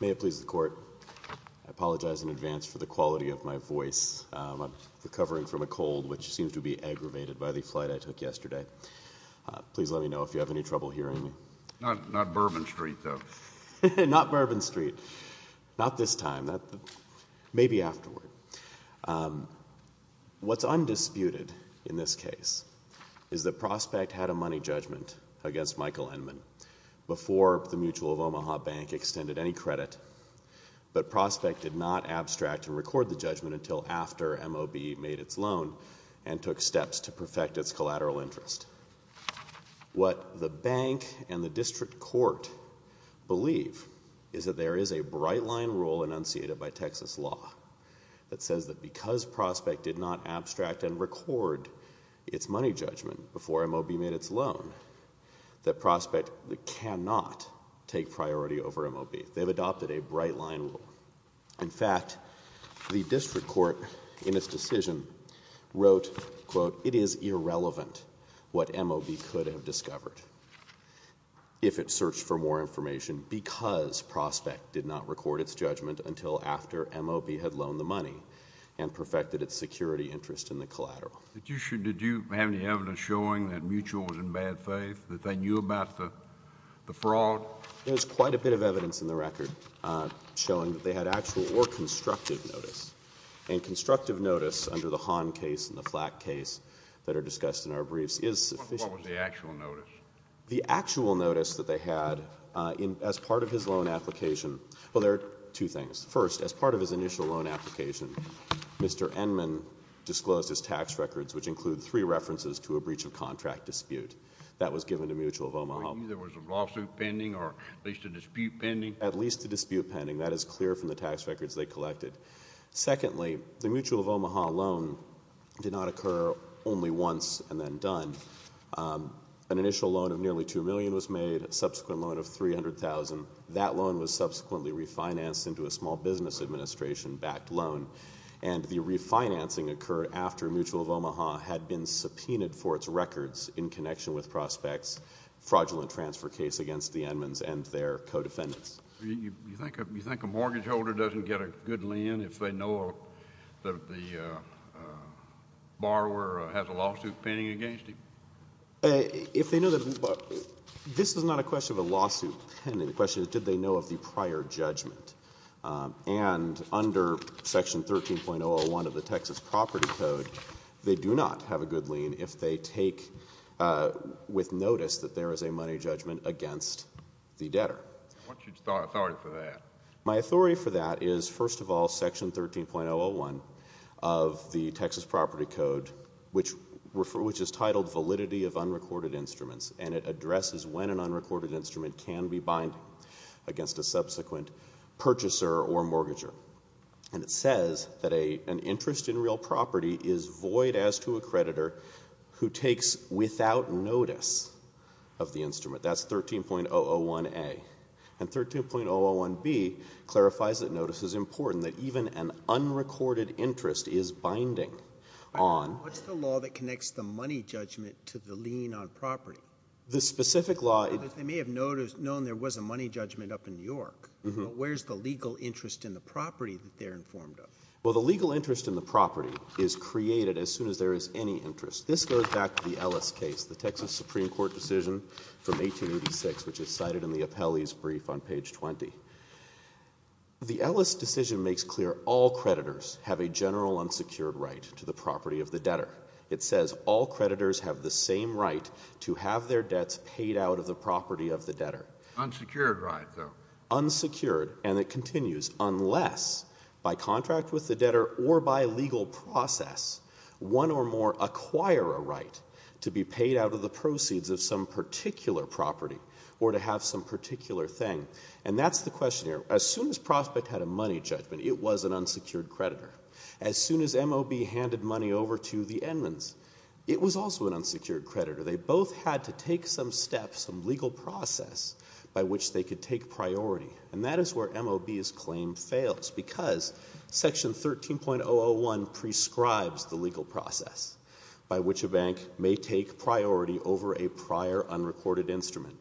May it please the court, I apologize in advance for the quality of my voice. I'm recovering from a cold which seems to be aggravated by the flight I took yesterday. Please let me know if you have any trouble hearing me. Not Bourbon Street though. What's undisputed in this case is that Prospect had a money judgment against Michael Endman before the Mutual of Omaha Bank extended any credit, but Prospect did not abstract or record the judgment until after MOB made its loan and took steps to perfect its collateral interest. What the bank and the district court believe is that there is a bright line rule enunciated by Texas law that says that because Prospect did not abstract and record its money judgment before MOB made its loan, that Prospect cannot take priority over MOB. They've adopted a bright line rule. In fact, the district court in its decision wrote, quote, it is irrelevant what MOB could have discovered if it searched for more information because Prospect did not record its judgment until after MOB had loaned the money and perfected its security interest in the collateral. Did you have any evidence showing that Mutual was in bad faith, that they knew about the fraud? There's quite a bit of evidence in the record showing that they had actual or constructive notice. And constructive notice under the Hahn case and the Flack case that are discussed in our briefs is sufficient. What was the actual notice? The actual notice that they had as part of his loan application, well, there are two things. First, as part of his initial loan application, Mr. Endman disclosed his tax records, which include three references to a breach of contract dispute. That was given to Mutual of Omaha. There was a lawsuit pending or at least a dispute pending? At least a dispute pending. That is clear from the tax records they collected. Secondly, the Mutual of Omaha loan did not occur only once and then done. An initial loan of nearly $2 million was made, a subsequent loan of $300,000. That loan was subsequently refinanced into a small business administration-backed loan. And the refinancing occurred after Mutual of Omaha had been subpoenaed for its records in connection with prospects, fraudulent transfer case against the Endmans and their co-defendants. Do you think a mortgage holder doesn't get a good lien if they know that the borrower has a lawsuit pending against him? If they know that the – this is not a question of a lawsuit pending. The question is did they know of the prior judgment? And under Section 13.001 of the Texas Property Code, they do not have a good lien if they take with notice that there is a money judgment against the debtor. What's your authority for that? My authority for that is, first of all, Section 13.001 of the Texas Property Code, which is titled Validity of Unrecorded Instruments, and it addresses when an unrecorded instrument can be binding against a subsequent purchaser or mortgager. And it says that an interest in real property is void as to a creditor who takes without notice of the instrument. That's 13.001A. And 13.001B clarifies that notice is important, that even an unrecorded interest is binding on – The specific law – They may have known there was a money judgment up in New York, but where's the legal interest in the property that they're informed of? Well, the legal interest in the property is created as soon as there is any interest. This goes back to the Ellis case, the Texas Supreme Court decision from 1886, which is cited in the appellee's brief on page 20. The Ellis decision makes clear all creditors have a general unsecured right to the property of the debtor. It says all creditors have the same right to have their debts paid out of the property of the debtor. Unsecured right, though. Unsecured, and it continues, unless by contract with the debtor or by legal process one or more acquire a right to be paid out of the proceeds of some particular property or to have some particular thing. And that's the question here. As soon as Prospect had a money judgment, it was an unsecured creditor. As soon as M.O.B. handed money over to the Edmonds, it was also an unsecured creditor. They both had to take some steps, some legal process by which they could take priority, and that is where M.O.B.'s claim fails because Section 13.001 prescribes the legal process by which a bank may take priority over a prior unrecorded instrument,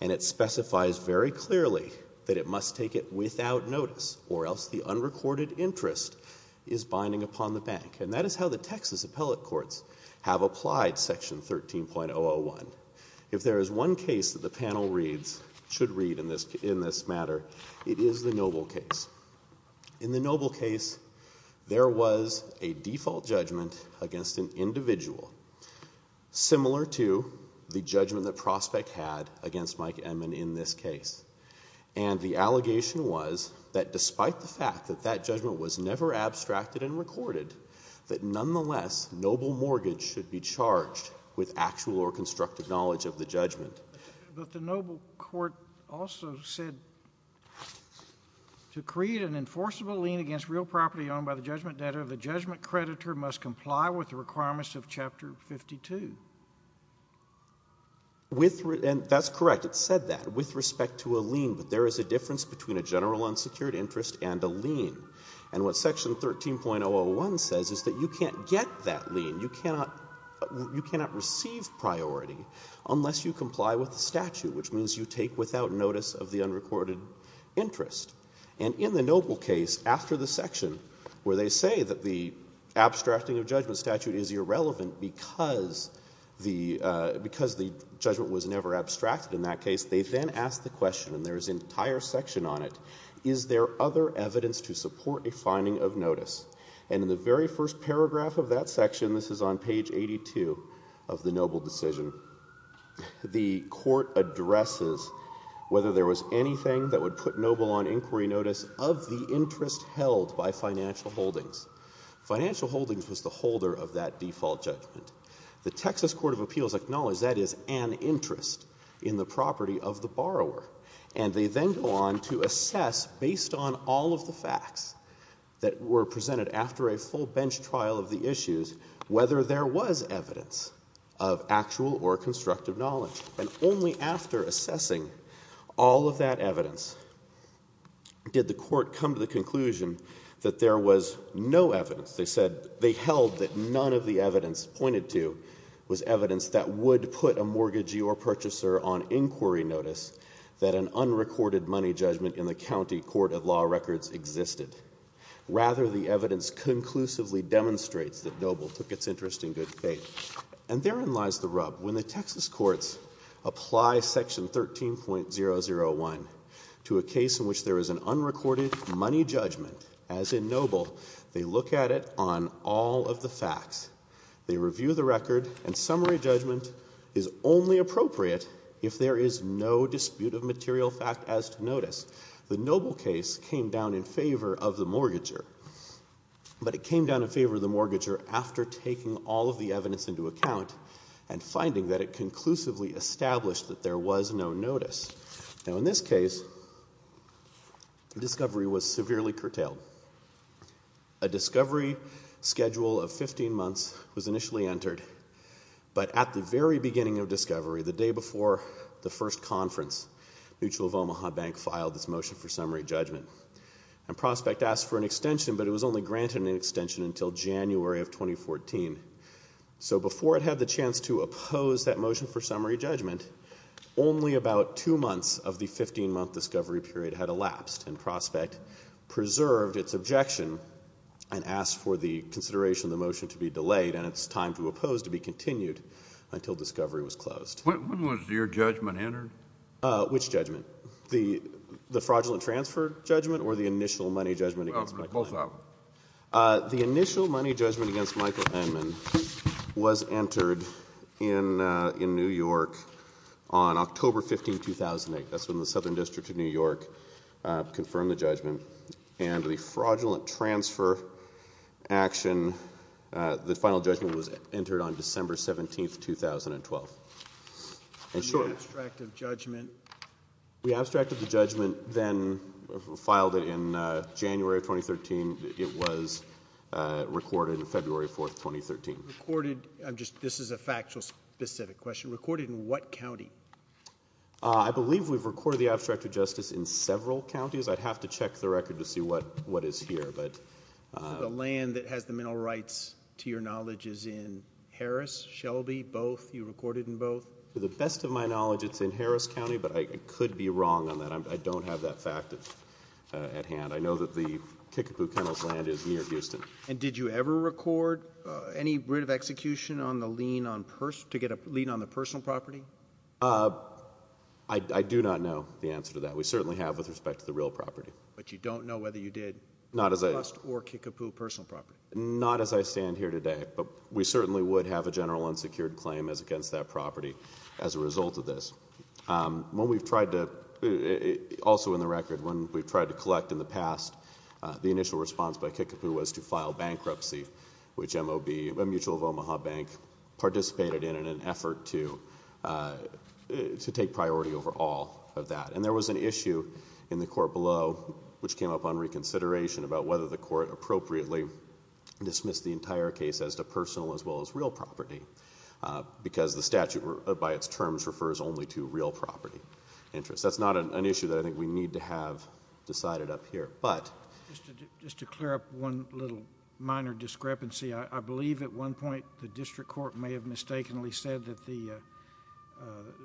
and it specifies very clearly that it must take it without notice or else the unrecorded interest is binding upon the bank. And that is how the Texas appellate courts have applied Section 13.001. If there is one case that the panel reads, should read in this matter, it is the Noble case. In the Noble case, there was a default judgment against an individual similar to the judgment that Prospect had against Mike Edmond in this case, and the allegation was that despite the fact that that judgment was never abstracted and recorded, that nonetheless, Noble mortgage should be charged with actual or constructive knowledge of the judgment. But the Noble court also said to create an enforceable lien against real property owned by the judgment debtor, the judgment creditor must comply with the requirements of Chapter 52. And that's correct. It said that, with respect to a lien. But there is a difference between a general unsecured interest and a lien. And what Section 13.001 says is that you can't get that lien. You cannot receive priority unless you comply with the statute, which means you take without notice of the unrecorded interest. And in the Noble case, after the section where they say that the abstracting judgment statute is irrelevant because the judgment was never abstracted in that case, they then ask the question, and there is an entire section on it, is there other evidence to support a finding of notice? And in the very first paragraph of that section, this is on page 82 of the Noble decision, the court addresses whether there was anything that would put Noble on inquiry notice of the interest held by financial holdings. Financial holdings was the holder of that default judgment. The Texas Court of Appeals acknowledged that is an interest in the property of the borrower. And they then go on to assess, based on all of the facts that were presented after a full bench trial of the issues, whether there was evidence of actual or constructive knowledge. And only after assessing all of that evidence did the court come to the conclusion that there was no evidence. They said they held that none of the evidence pointed to was evidence that would put a mortgagee or purchaser on inquiry notice that an unrecorded money judgment in the county court of law records existed. Rather, the evidence conclusively demonstrates that Noble took its interest in good faith. And therein lies the rub. When the Texas courts apply section 13.001 to a case in which there is an unrecorded money judgment, as in Noble, they look at it on all of the facts. They review the record. And summary judgment is only appropriate if there is no dispute of material fact as to notice. The Noble case came down in favor of the mortgager. But it came down in favor of the mortgager after taking all of the evidence into account and finding that it conclusively established that there was no notice. Now, in this case, discovery was severely curtailed. A discovery schedule of 15 months was initially entered. But at the very beginning of discovery, the day before the first conference, Mutual of Omaha Bank filed its motion for summary judgment. And prospect asked for an extension, but it was only granted an extension until January of 2014. So before it had the chance to oppose that motion for summary judgment, only about two months of the 15-month discovery period had elapsed. And prospect preserved its objection and asked for the consideration of the motion to be delayed. And it's time to oppose to be continued until discovery was closed. When was your judgment entered? Which judgment? The fraudulent transfer judgment or the initial money judgment against Michael Henman? Both of them. The initial money judgment against Michael Henman was entered in New York on October 15, 2008. That's when the Southern District of New York confirmed the judgment. And the fraudulent transfer action, the final judgment was entered on December 17, 2012. Can you abstract the judgment? We abstracted the judgment, then filed it in January of 2013. It was recorded in February 4, 2013. This is a factual specific question. Recorded in what county? I believe we've recorded the abstracted justice in several counties. I'd have to check the record to see what is here. The land that has the mental rights, to your knowledge, is in Harris, Shelby, both? You recorded in both? To the best of my knowledge, it's in Harris County, but I could be wrong on that. I don't have that fact at hand. I know that the Kickapoo Kennels land is near Houston. And did you ever record any writ of execution to get a lien on the personal property? I do not know the answer to that. We certainly have with respect to the real property. But you don't know whether you did trust or Kickapoo personal property? Not as I stand here today. But we certainly would have a general unsecured claim against that property as a result of this. Also in the record, when we've tried to collect in the past, the initial response by Kickapoo was to file bankruptcy, which MOB, a mutual of Omaha Bank, participated in in an effort to take priority over all of that. And there was an issue in the court below which came up on reconsideration about whether the court appropriately dismissed the entire case as to personal as well as real property, because the statute by its terms refers only to real property interests. That's not an issue that I think we need to have decided up here. Just to clear up one little minor discrepancy, I believe at one point the district court may have mistakenly said that it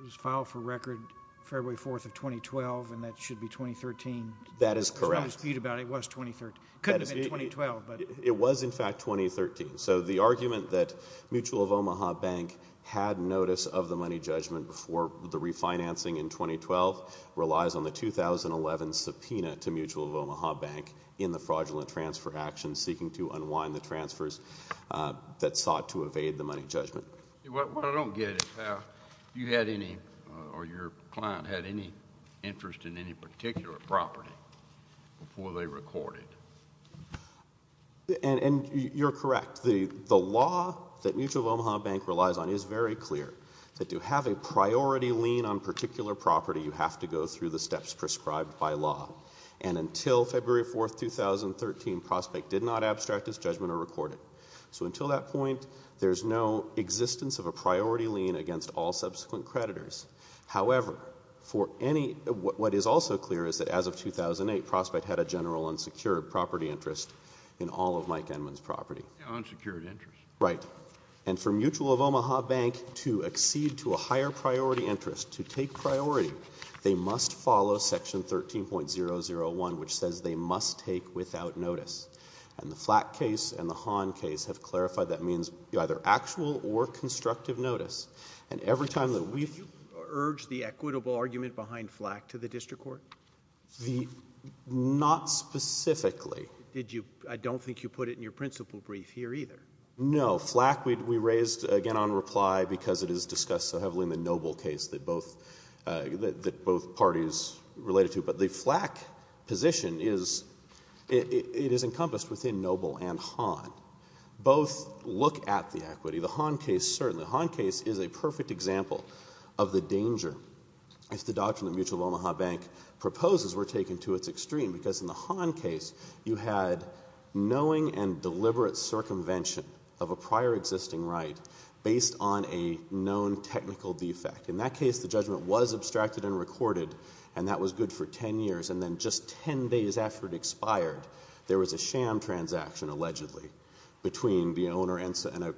was filed for record February 4th of 2012, and that should be 2013. That is correct. There's no dispute about it. It was 2013. It couldn't have been 2012. It was, in fact, 2013. So the argument that Mutual of Omaha Bank had notice of the money judgment before the refinancing in 2012 relies on the 2011 subpoena to Mutual of Omaha Bank in the fraudulent transfer action seeking to unwind the transfers that sought to evade the money judgment. What I don't get is how you had any or your client had any interest in any particular property before they recorded. You're correct. The law that Mutual of Omaha Bank relies on is very clear. To have a priority lien on particular property, you have to go through the steps prescribed by law. And until February 4th, 2013, Prospect did not abstract its judgment or record it. So until that point, there's no existence of a priority lien against all subsequent creditors. However, what is also clear is that as of 2008, Prospect had a general unsecured property interest in all of Mike Enman's property. Unsecured interest. Right. And for Mutual of Omaha Bank to accede to a higher priority interest, to take priority, they must follow Section 13.001, which says they must take without notice. And the Flack case and the Hahn case have clarified that means either actual or constructive notice. And every time that we've – So would you urge the equitable argument behind Flack to the district court? The – not specifically. Did you – I don't think you put it in your principle brief here either. No. Flack we raised, again, on reply because it is discussed so heavily in the Noble case that both parties related to. But the Flack position is – it is encompassed within Noble and Hahn. Both look at the equity. The Hahn case, certainly. The Hahn case is a perfect example of the danger if the doctrine of Mutual of Omaha Bank proposes we're taking to its extreme. Because in the Hahn case, you had knowing and deliberate circumvention of a prior existing right based on a known technical defect. In that case, the judgment was abstracted and recorded, and that was good for 10 years. And then just 10 days after it expired, there was a sham transaction, allegedly, between the owner and a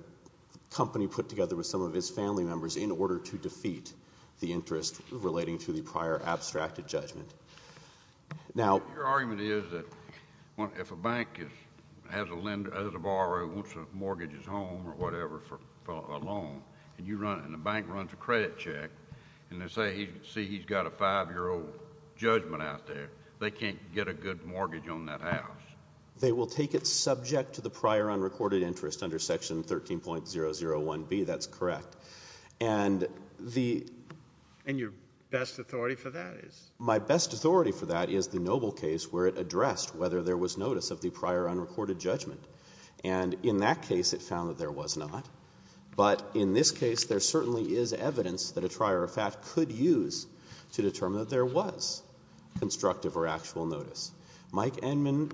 company put together with some of his family members in order to defeat the interest relating to the prior abstracted interest. Now – Your argument is that if a bank has a borrower who wants to mortgage his home or whatever for a loan, and you run – and the bank runs a credit check, and they say, see, he's got a 5-year-old judgment out there, they can't get a good mortgage on that house. They will take it subject to the prior unrecorded interest under Section 13.001B. That's correct. And the – And your best authority for that is? My best authority for that is the Noble case where it addressed whether there was notice of the prior unrecorded judgment. And in that case, it found that there was not. But in this case, there certainly is evidence that a trier of fact could use to determine that there was constructive or actual notice. Mike Enman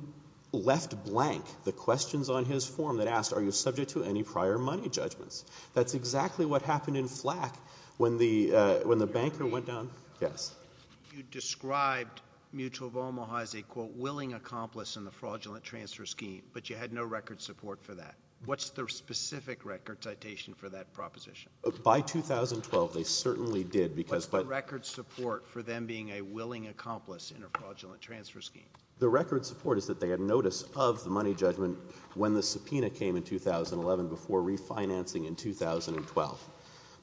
left blank the questions on his form that asked, are you subject to any prior money judgments? That's exactly what happened in Flack when the banker went down – You described Mutual of Omaha as a, quote, willing accomplice in the fraudulent transfer scheme, but you had no record support for that. What's the specific record citation for that proposition? By 2012, they certainly did because – What's the record support for them being a willing accomplice in a fraudulent transfer scheme? The record support is that they had notice of the money judgment when the subpoena came in 2011 before refinancing in 2012.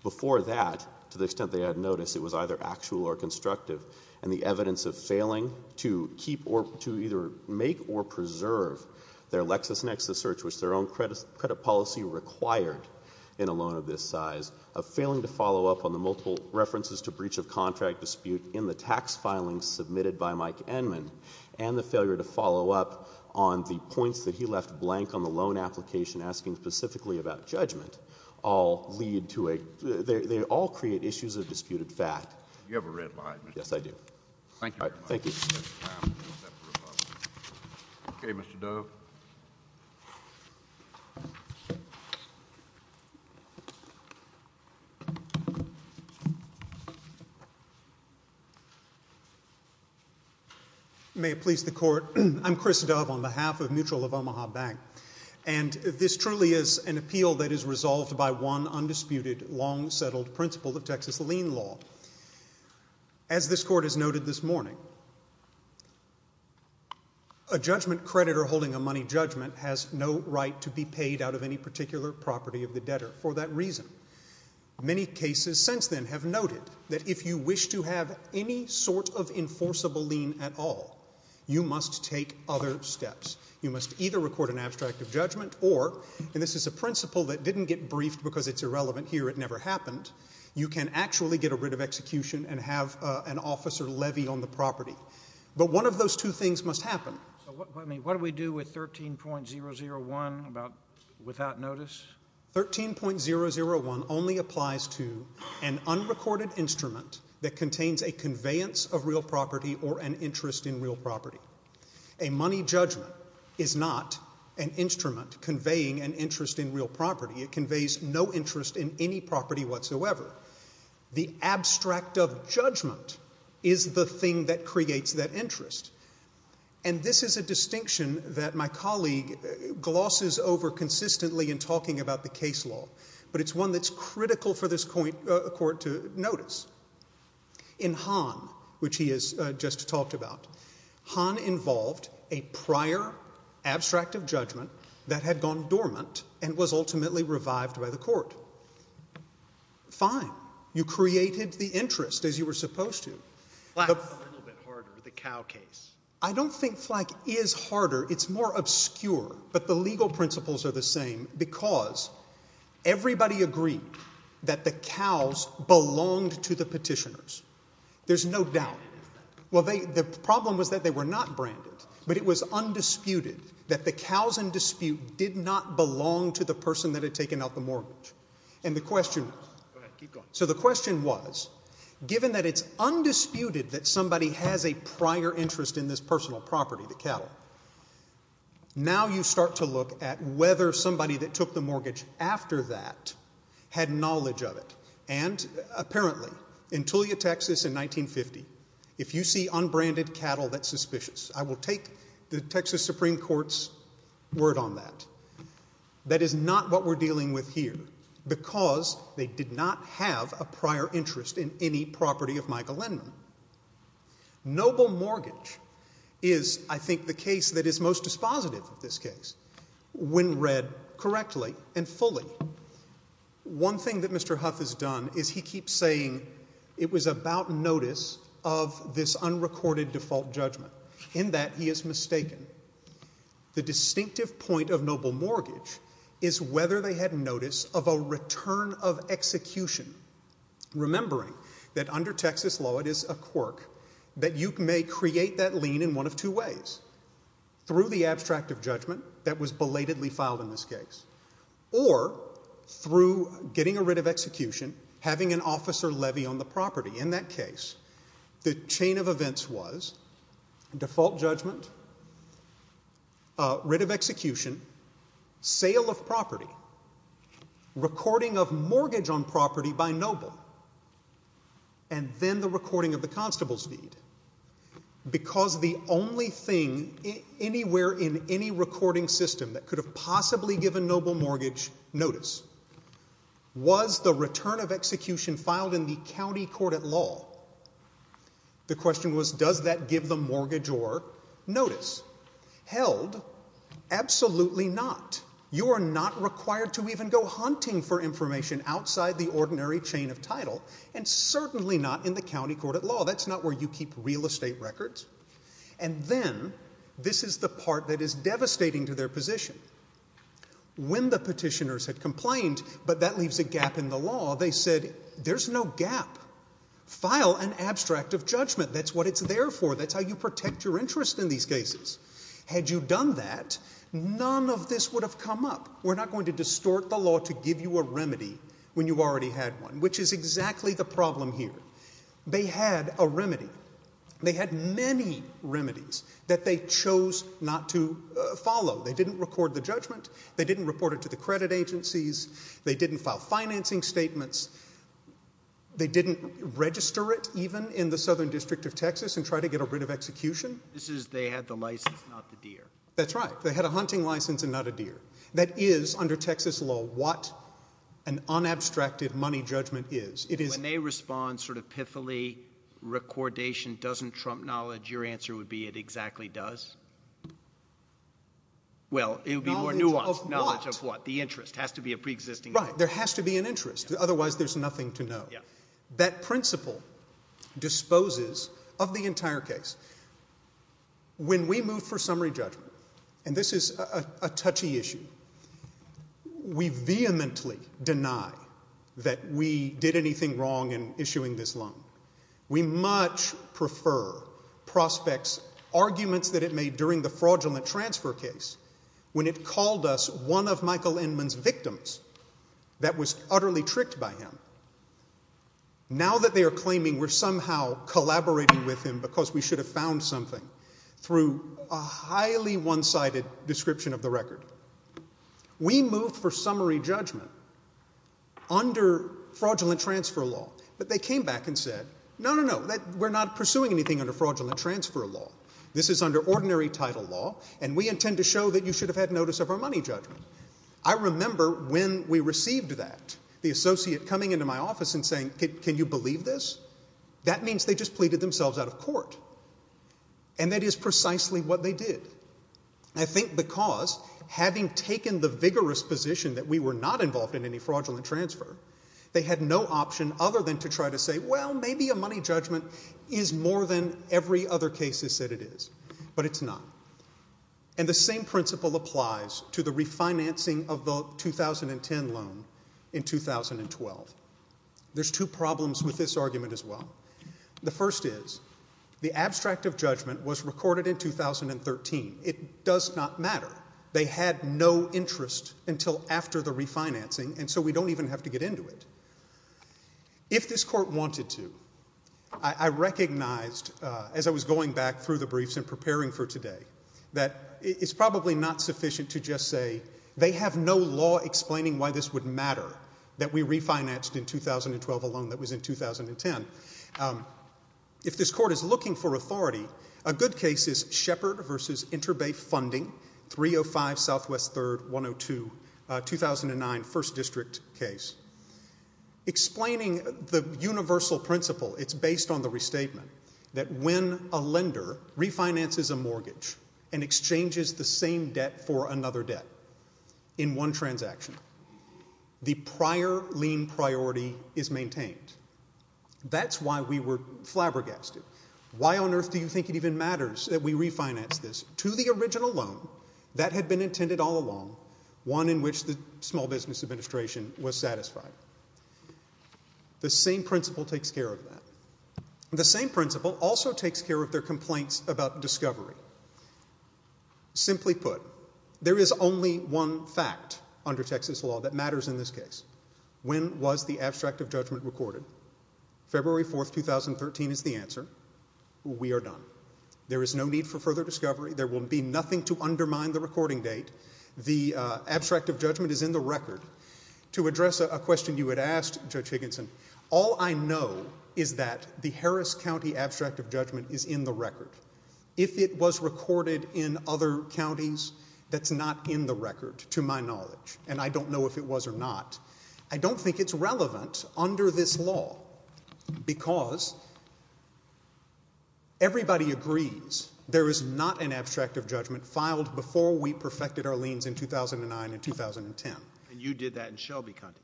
Before that, to the extent they had notice, it was either actual or constructive. And the evidence of failing to keep or to either make or preserve their LexisNexis search, which their own credit policy required in a loan of this size, of failing to follow up on the multiple references to breach of contract dispute in the tax filings submitted by Mike Enman, and the failure to follow up on the points that he They all create issues of disputed fact. You have a red light. Yes, I do. Thank you very much. Thank you. Okay, Mr. Dove. May it please the Court. I'm Chris Dove on behalf of Mutual of Omaha Bank. And this truly is an appeal that is resolved by one undisputed, long-settled principle of Texas lien law. As this Court has noted this morning, a judgment creditor holding a money judgment has no right to be paid out of any particular property of the debtor for that reason. Many cases since then have noted that if you wish to have any sort of enforceable lien at all, you must take other steps. You must either record an abstract of judgment or, and this is a principle that didn't get briefed because it's irrelevant here. It never happened. You can actually get rid of execution and have an officer levy on the property. But one of those two things must happen. What do we do with 13.001 without notice? 13.001 only applies to an unrecorded instrument that contains a conveyance of real property or an interest in real property. A money judgment is not an instrument conveying an interest in real property. It conveys no interest in any property whatsoever. The abstract of judgment is the thing that creates that interest. And this is a distinction that my colleague glosses over consistently in talking about the case law, but it's one that's critical for this Court to notice. In Hahn, which he has just talked about, Hahn involved a prior abstract of judgment that had gone dormant and was ultimately revived by the Court. Fine. You created the interest as you were supposed to. Black is a little bit harder, the cow case. I don't think Flack is harder. It's more obscure. But the legal principles are the same because everybody agreed that the cows belonged to the petitioners. There's no doubt. Well, the problem was that they were not branded, but it was undisputed that the cows in dispute did not belong to the person that had taken out the mortgage. And the question was, given that it's undisputed that somebody has a prior interest in this personal property, the cattle, now you start to look at whether somebody that took the mortgage after that had knowledge of it. And apparently, in Tulia, Texas, in 1950, if you see unbranded cattle, that's suspicious. I will take the Texas Supreme Court's word on that. That is not what we're dealing with here because they did not have a prior interest in any property of Michael Lindman. Noble mortgage is, I think, the case that is most dispositive of this case. When read correctly and fully, one thing that Mr. Huff has done is he keeps saying it was about notice of this unrecorded default judgment. In that, he is mistaken. The distinctive point of noble mortgage is whether they had notice of a return of execution, remembering that under Texas law, it is a quirk that you may create that lien in one of two ways. Through the abstract of judgment that was belatedly filed in this case or through getting a writ of execution, having an officer levy on the property. In that case, the chain of events was default judgment, writ of execution, sale of property, recording of mortgage on property by noble, and then the recording of the constable's deed because the only thing anywhere in any recording system that could have possibly given noble mortgage notice was the return of execution filed in the county court at law. The question was, does that give the mortgage or notice? Held, absolutely not. You are not required to even go hunting for information outside the ordinary chain of title, and certainly not in the county court at law. That's not where you keep real estate records. And then, this is the part that is devastating to their position. When the petitioners had complained, but that leaves a gap in the law, they said, there's no gap. File an abstract of judgment. That's what it's there for. That's how you protect your interest in these cases. Had you done that, none of this would have come up. We're not going to distort the law to give you a remedy when you already had one, which is exactly the problem here. They had a remedy. They had many remedies that they chose not to follow. They didn't record the judgment. They didn't report it to the credit agencies. They didn't file financing statements. They didn't register it even in the Southern District of Texas and try to get a writ of execution. This is they had the license, not the deer. That's right. They had a hunting license and not a deer. That is, under Texas law, what an unabstracted money judgment is. When they respond sort of pithily, recordation doesn't trump knowledge, your answer would be it exactly does. Well, it would be more nuanced. Knowledge of what? The interest. It has to be a preexisting interest. Right. There has to be an interest. Otherwise, there's nothing to know. That principle disposes of the entire case. When we move for summary judgment, and this is a touchy issue, we vehemently deny that we did anything wrong in issuing this loan. We much prefer prospects' arguments that it made during the fraudulent transfer case when it called us one of Michael Inman's victims that was utterly tricked by him. Now that they are claiming we're somehow collaborating with him because we should have found something through a highly one-sided description of the record, we move for summary judgment under fraudulent transfer law. But they came back and said, no, no, no, we're not pursuing anything under fraudulent transfer law. This is under ordinary title law, and we intend to show that you should have had notice of our money judgment. I remember when we received that, the associate coming into my office and saying, can you believe this? That means they just pleaded themselves out of court. And that is precisely what they did. I think because having taken the vigorous position that we were not involved in any fraudulent transfer, they had no option other than to try to say, well, maybe a money judgment is more than every other case has said it is. But it's not. And the same principle applies to the refinancing of the 2010 loan in 2012. There's two problems with this argument as well. The first is the abstract of judgment was recorded in 2013. It does not matter. They had no interest until after the refinancing, and so we don't even have to get into it. If this court wanted to, I recognized as I was going back through the briefs and preparing for today that it's probably not sufficient to just say they have no law explaining why this would matter that we refinanced in 2012 a loan that was in 2010. If this court is looking for authority, a good case is Shepard v. Interbay Funding, 305 Southwest 3rd, 102, 2009 First District case. Explaining the universal principle, it's based on the restatement that when a lender refinances a mortgage and exchanges the same debt for another debt in one transaction, the prior lien priority is maintained. That's why we were flabbergasted. Why on earth do you think it even matters that we refinance this to the original loan that had been intended all along, one in which the Small Business Administration was satisfied? The same principle takes care of that. The same principle also takes care of their complaints about discovery. Simply put, there is only one fact under Texas law that matters in this case. When was the abstract of judgment recorded? February 4th, 2013 is the answer. We are done. There is no need for further discovery. There will be nothing to undermine the recording date. The abstract of judgment is in the record. To address a question you had asked, Judge Higginson, all I know is that the Harris County abstract of judgment is in the record. If it was recorded in other counties, that's not in the record to my knowledge, and I don't know if it was or not. I don't think it's relevant under this law because everybody agrees there is not an abstract of judgment filed before we perfected our liens in 2009 and 2010. And you did that in Shelby County?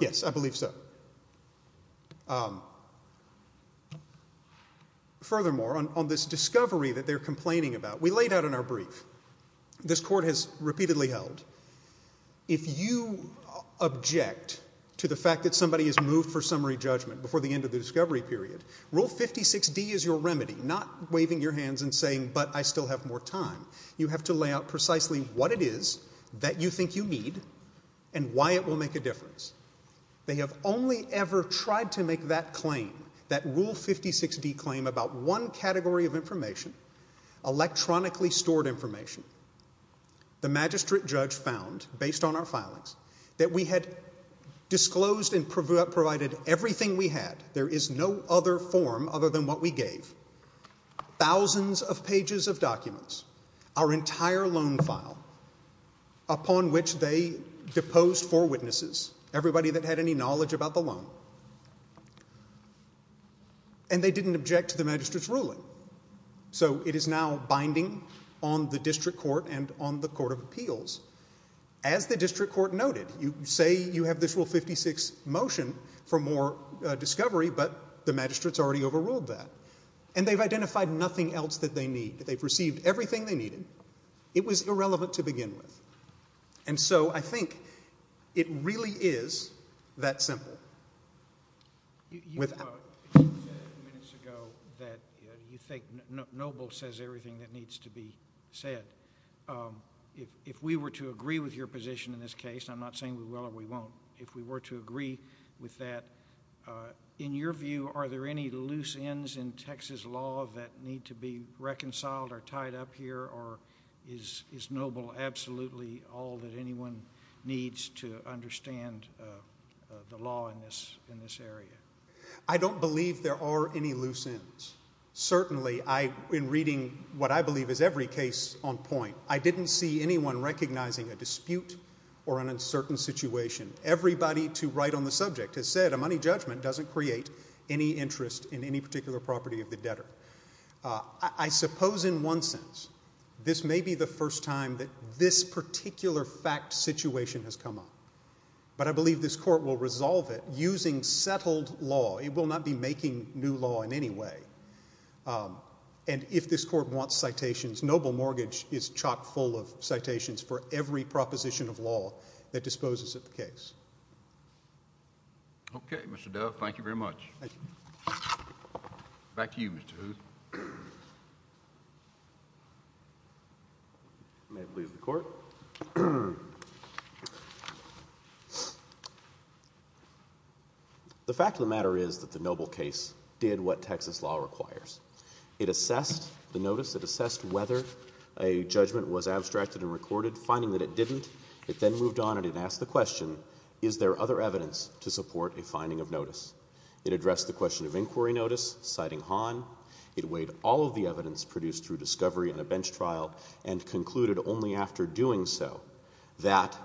Yes, I believe so. Furthermore, on this discovery that they're complaining about, we laid out in our brief, this Court has repeatedly held, if you object to the fact that somebody has moved for summary judgment before the end of the discovery period, Rule 56D is your remedy, not waving your hands and saying, but I still have more time. You have to lay out precisely what it is that you think you need and why it will make a difference. They have only ever tried to make that claim, that Rule 56D claim, about one category of information, electronically stored information. The magistrate judge found, based on our filings, that we had disclosed and provided everything we had. There is no other form other than what we gave. Thousands of pages of documents, our entire loan file, upon which they deposed four witnesses, everybody that had any knowledge about the loan. And they didn't object to the magistrate's ruling. So it is now binding on the District Court and on the Court of Appeals. As the District Court noted, you say you have this Rule 56 motion for more discovery, but the magistrate's already overruled that. And they've identified nothing else that they need. They've received everything they needed. It was irrelevant to begin with. And so I think it really is that simple. You said a few minutes ago that you think Noble says everything that needs to be said. If we were to agree with your position in this case, and I'm not saying we will or we won't, if we were to agree with that, in your view, are there any loose ends in Texas law that need to be reconciled or tied up here, or is Noble absolutely all that anyone needs to understand the law in this area? I don't believe there are any loose ends. Certainly, in reading what I believe is every case on point, I didn't see anyone recognizing a dispute or an uncertain situation. Everybody to write on the subject has said a money judgment doesn't create any interest in any particular property of the debtor. I suppose in one sense this may be the first time that this particular fact situation has come up. But I believe this court will resolve it using settled law. It will not be making new law in any way. And if this court wants citations, Noble Mortgage is chock full of citations for every proposition of law that disposes of the case. Okay, Mr. Dove, thank you very much. Thank you. Back to you, Mr. Hooth. May it please the Court. The fact of the matter is that the Noble case did what Texas law requires. It assessed the notice. It assessed whether a judgment was abstracted and recorded. Finding that it didn't, it then moved on and it asked the question, is there other evidence to support a finding of notice? It addressed the question of inquiry notice, citing Hahn. It weighed all of the evidence produced through discovery in a bench trial and concluded only after doing so that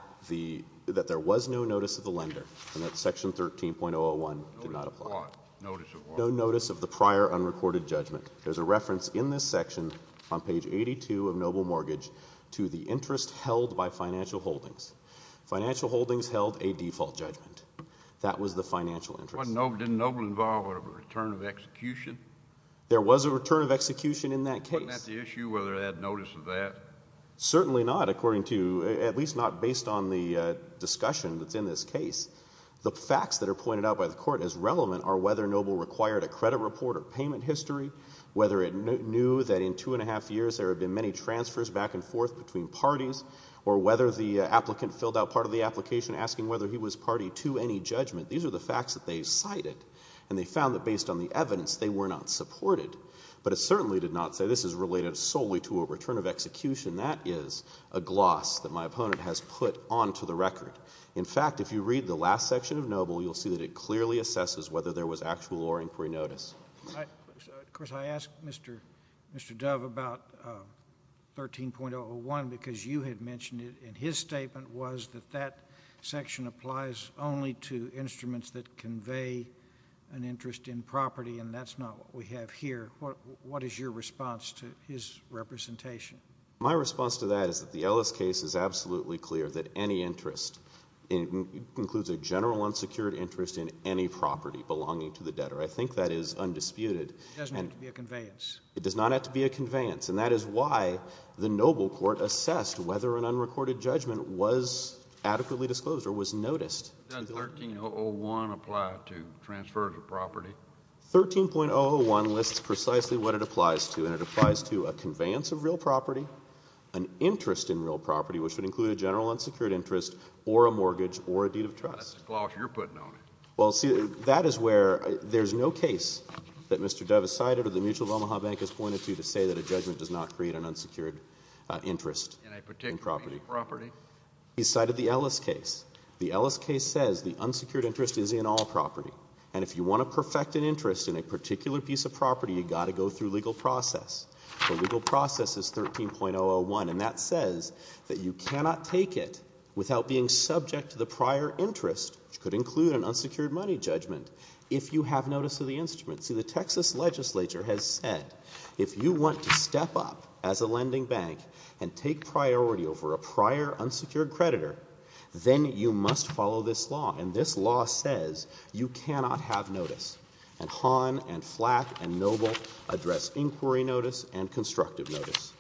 there was no notice of the lender and that Section 13.001 did not apply. Notice of what? Notice of what? Notice of the prior unrecorded judgment. There's a reference in this section on page 82 of Noble Mortgage to the interest held by financial holdings. Financial holdings held a default judgment. That was the financial interest. Didn't Noble involve a return of execution? There was a return of execution in that case. Wasn't that the issue, whether it had notice of that? Certainly not, according to, at least not based on the discussion that's in this case. The facts that are pointed out by the Court as relevant are whether Noble required a credit report or payment history, whether it knew that in two-and-a-half years there had been many transfers back and forth between parties, or whether the applicant filled out part of the application asking whether he was party to any judgment. These are the facts that they cited, and they found that based on the evidence they were not supported. But it certainly did not say this is related solely to a return of execution. That is a gloss that my opponent has put onto the record. In fact, if you read the last section of Noble, you'll see that it clearly assesses whether there was actual or inquiry notice. Of course, I asked Mr. Dove about 13.001 because you had mentioned it in his statement was that that section applies only to instruments that convey an interest in property, and that's not what we have here. What is your response to his representation? My response to that is that the Ellis case is absolutely clear that any interest includes a general unsecured interest in any property belonging to the debtor. I think that is undisputed. It doesn't have to be a conveyance. It does not have to be a conveyance, and that is why the Noble Court assessed whether an unrecorded judgment was adequately disclosed or was noticed. Does 13.001 apply to transfers of property? 13.001 lists precisely what it applies to, and it applies to a conveyance of real property, an interest in real property, which would include a general unsecured interest, or a mortgage, or a deed of trust. That's a gloss you're putting on it. Well, see, that is where there's no case that Mr. Dove has cited or the Mutual of Omaha Bank has pointed to to say that a judgment does not create an unsecured interest in property. In a particular piece of property? He cited the Ellis case. The Ellis case says the unsecured interest is in all property, and if you want to perfect an interest in a particular piece of property, you've got to go through legal process. The legal process is 13.001, and that says that you cannot take it without being subject to the prior interest, which could include an unsecured money judgment, if you have notice of the instruments. See, the Texas legislature has said if you want to step up as a lending bank and take priority over a prior unsecured creditor, then you must follow this law, and this law says you cannot have notice. And Hahn and Flack and Noble address inquiry notice and constructive notice.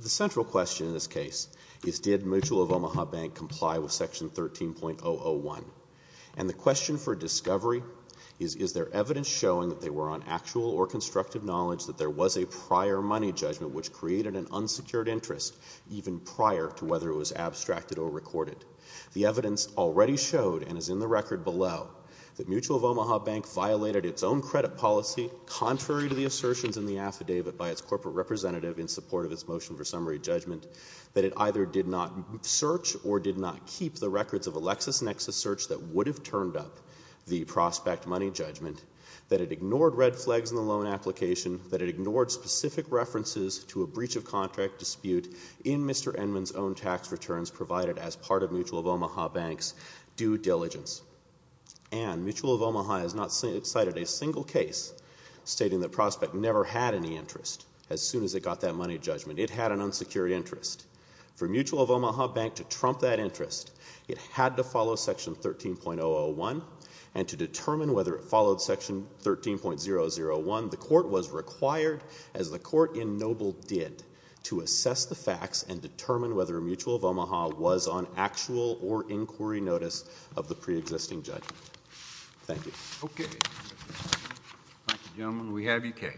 The central question in this case is did Mutual of Omaha Bank comply with Section 13.001? And the question for discovery is, is there evidence showing that they were on actual or constructive knowledge that there was a prior money judgment which created an unsecured interest, even prior to whether it was abstracted or recorded? The evidence already showed, and is in the record below, that Mutual of Omaha Bank violated its own credit policy contrary to the assertions in the affidavit by its corporate representative in support of its motion for summary judgment, that it either did not search or did not keep the records of a LexisNexis search that would have turned up the prospect money judgment, that it ignored red flags in the loan application, that it ignored specific references to a breach of contract dispute in Mr. Enman's own tax returns provided as part of Mutual of Omaha Bank's due diligence. And Mutual of Omaha has not cited a single case stating the prospect never had any interest as soon as it got that money judgment. It had an unsecured interest. For Mutual of Omaha Bank to trump that interest, it had to follow Section 13.001, and to determine whether it followed Section 13.001, the court was required, as the court in Noble did, to assess the facts and determine whether Mutual of Omaha was on actual or inquiry notice of the preexisting judgment. Thank you. Okay. Thank you, gentlemen. We have your case.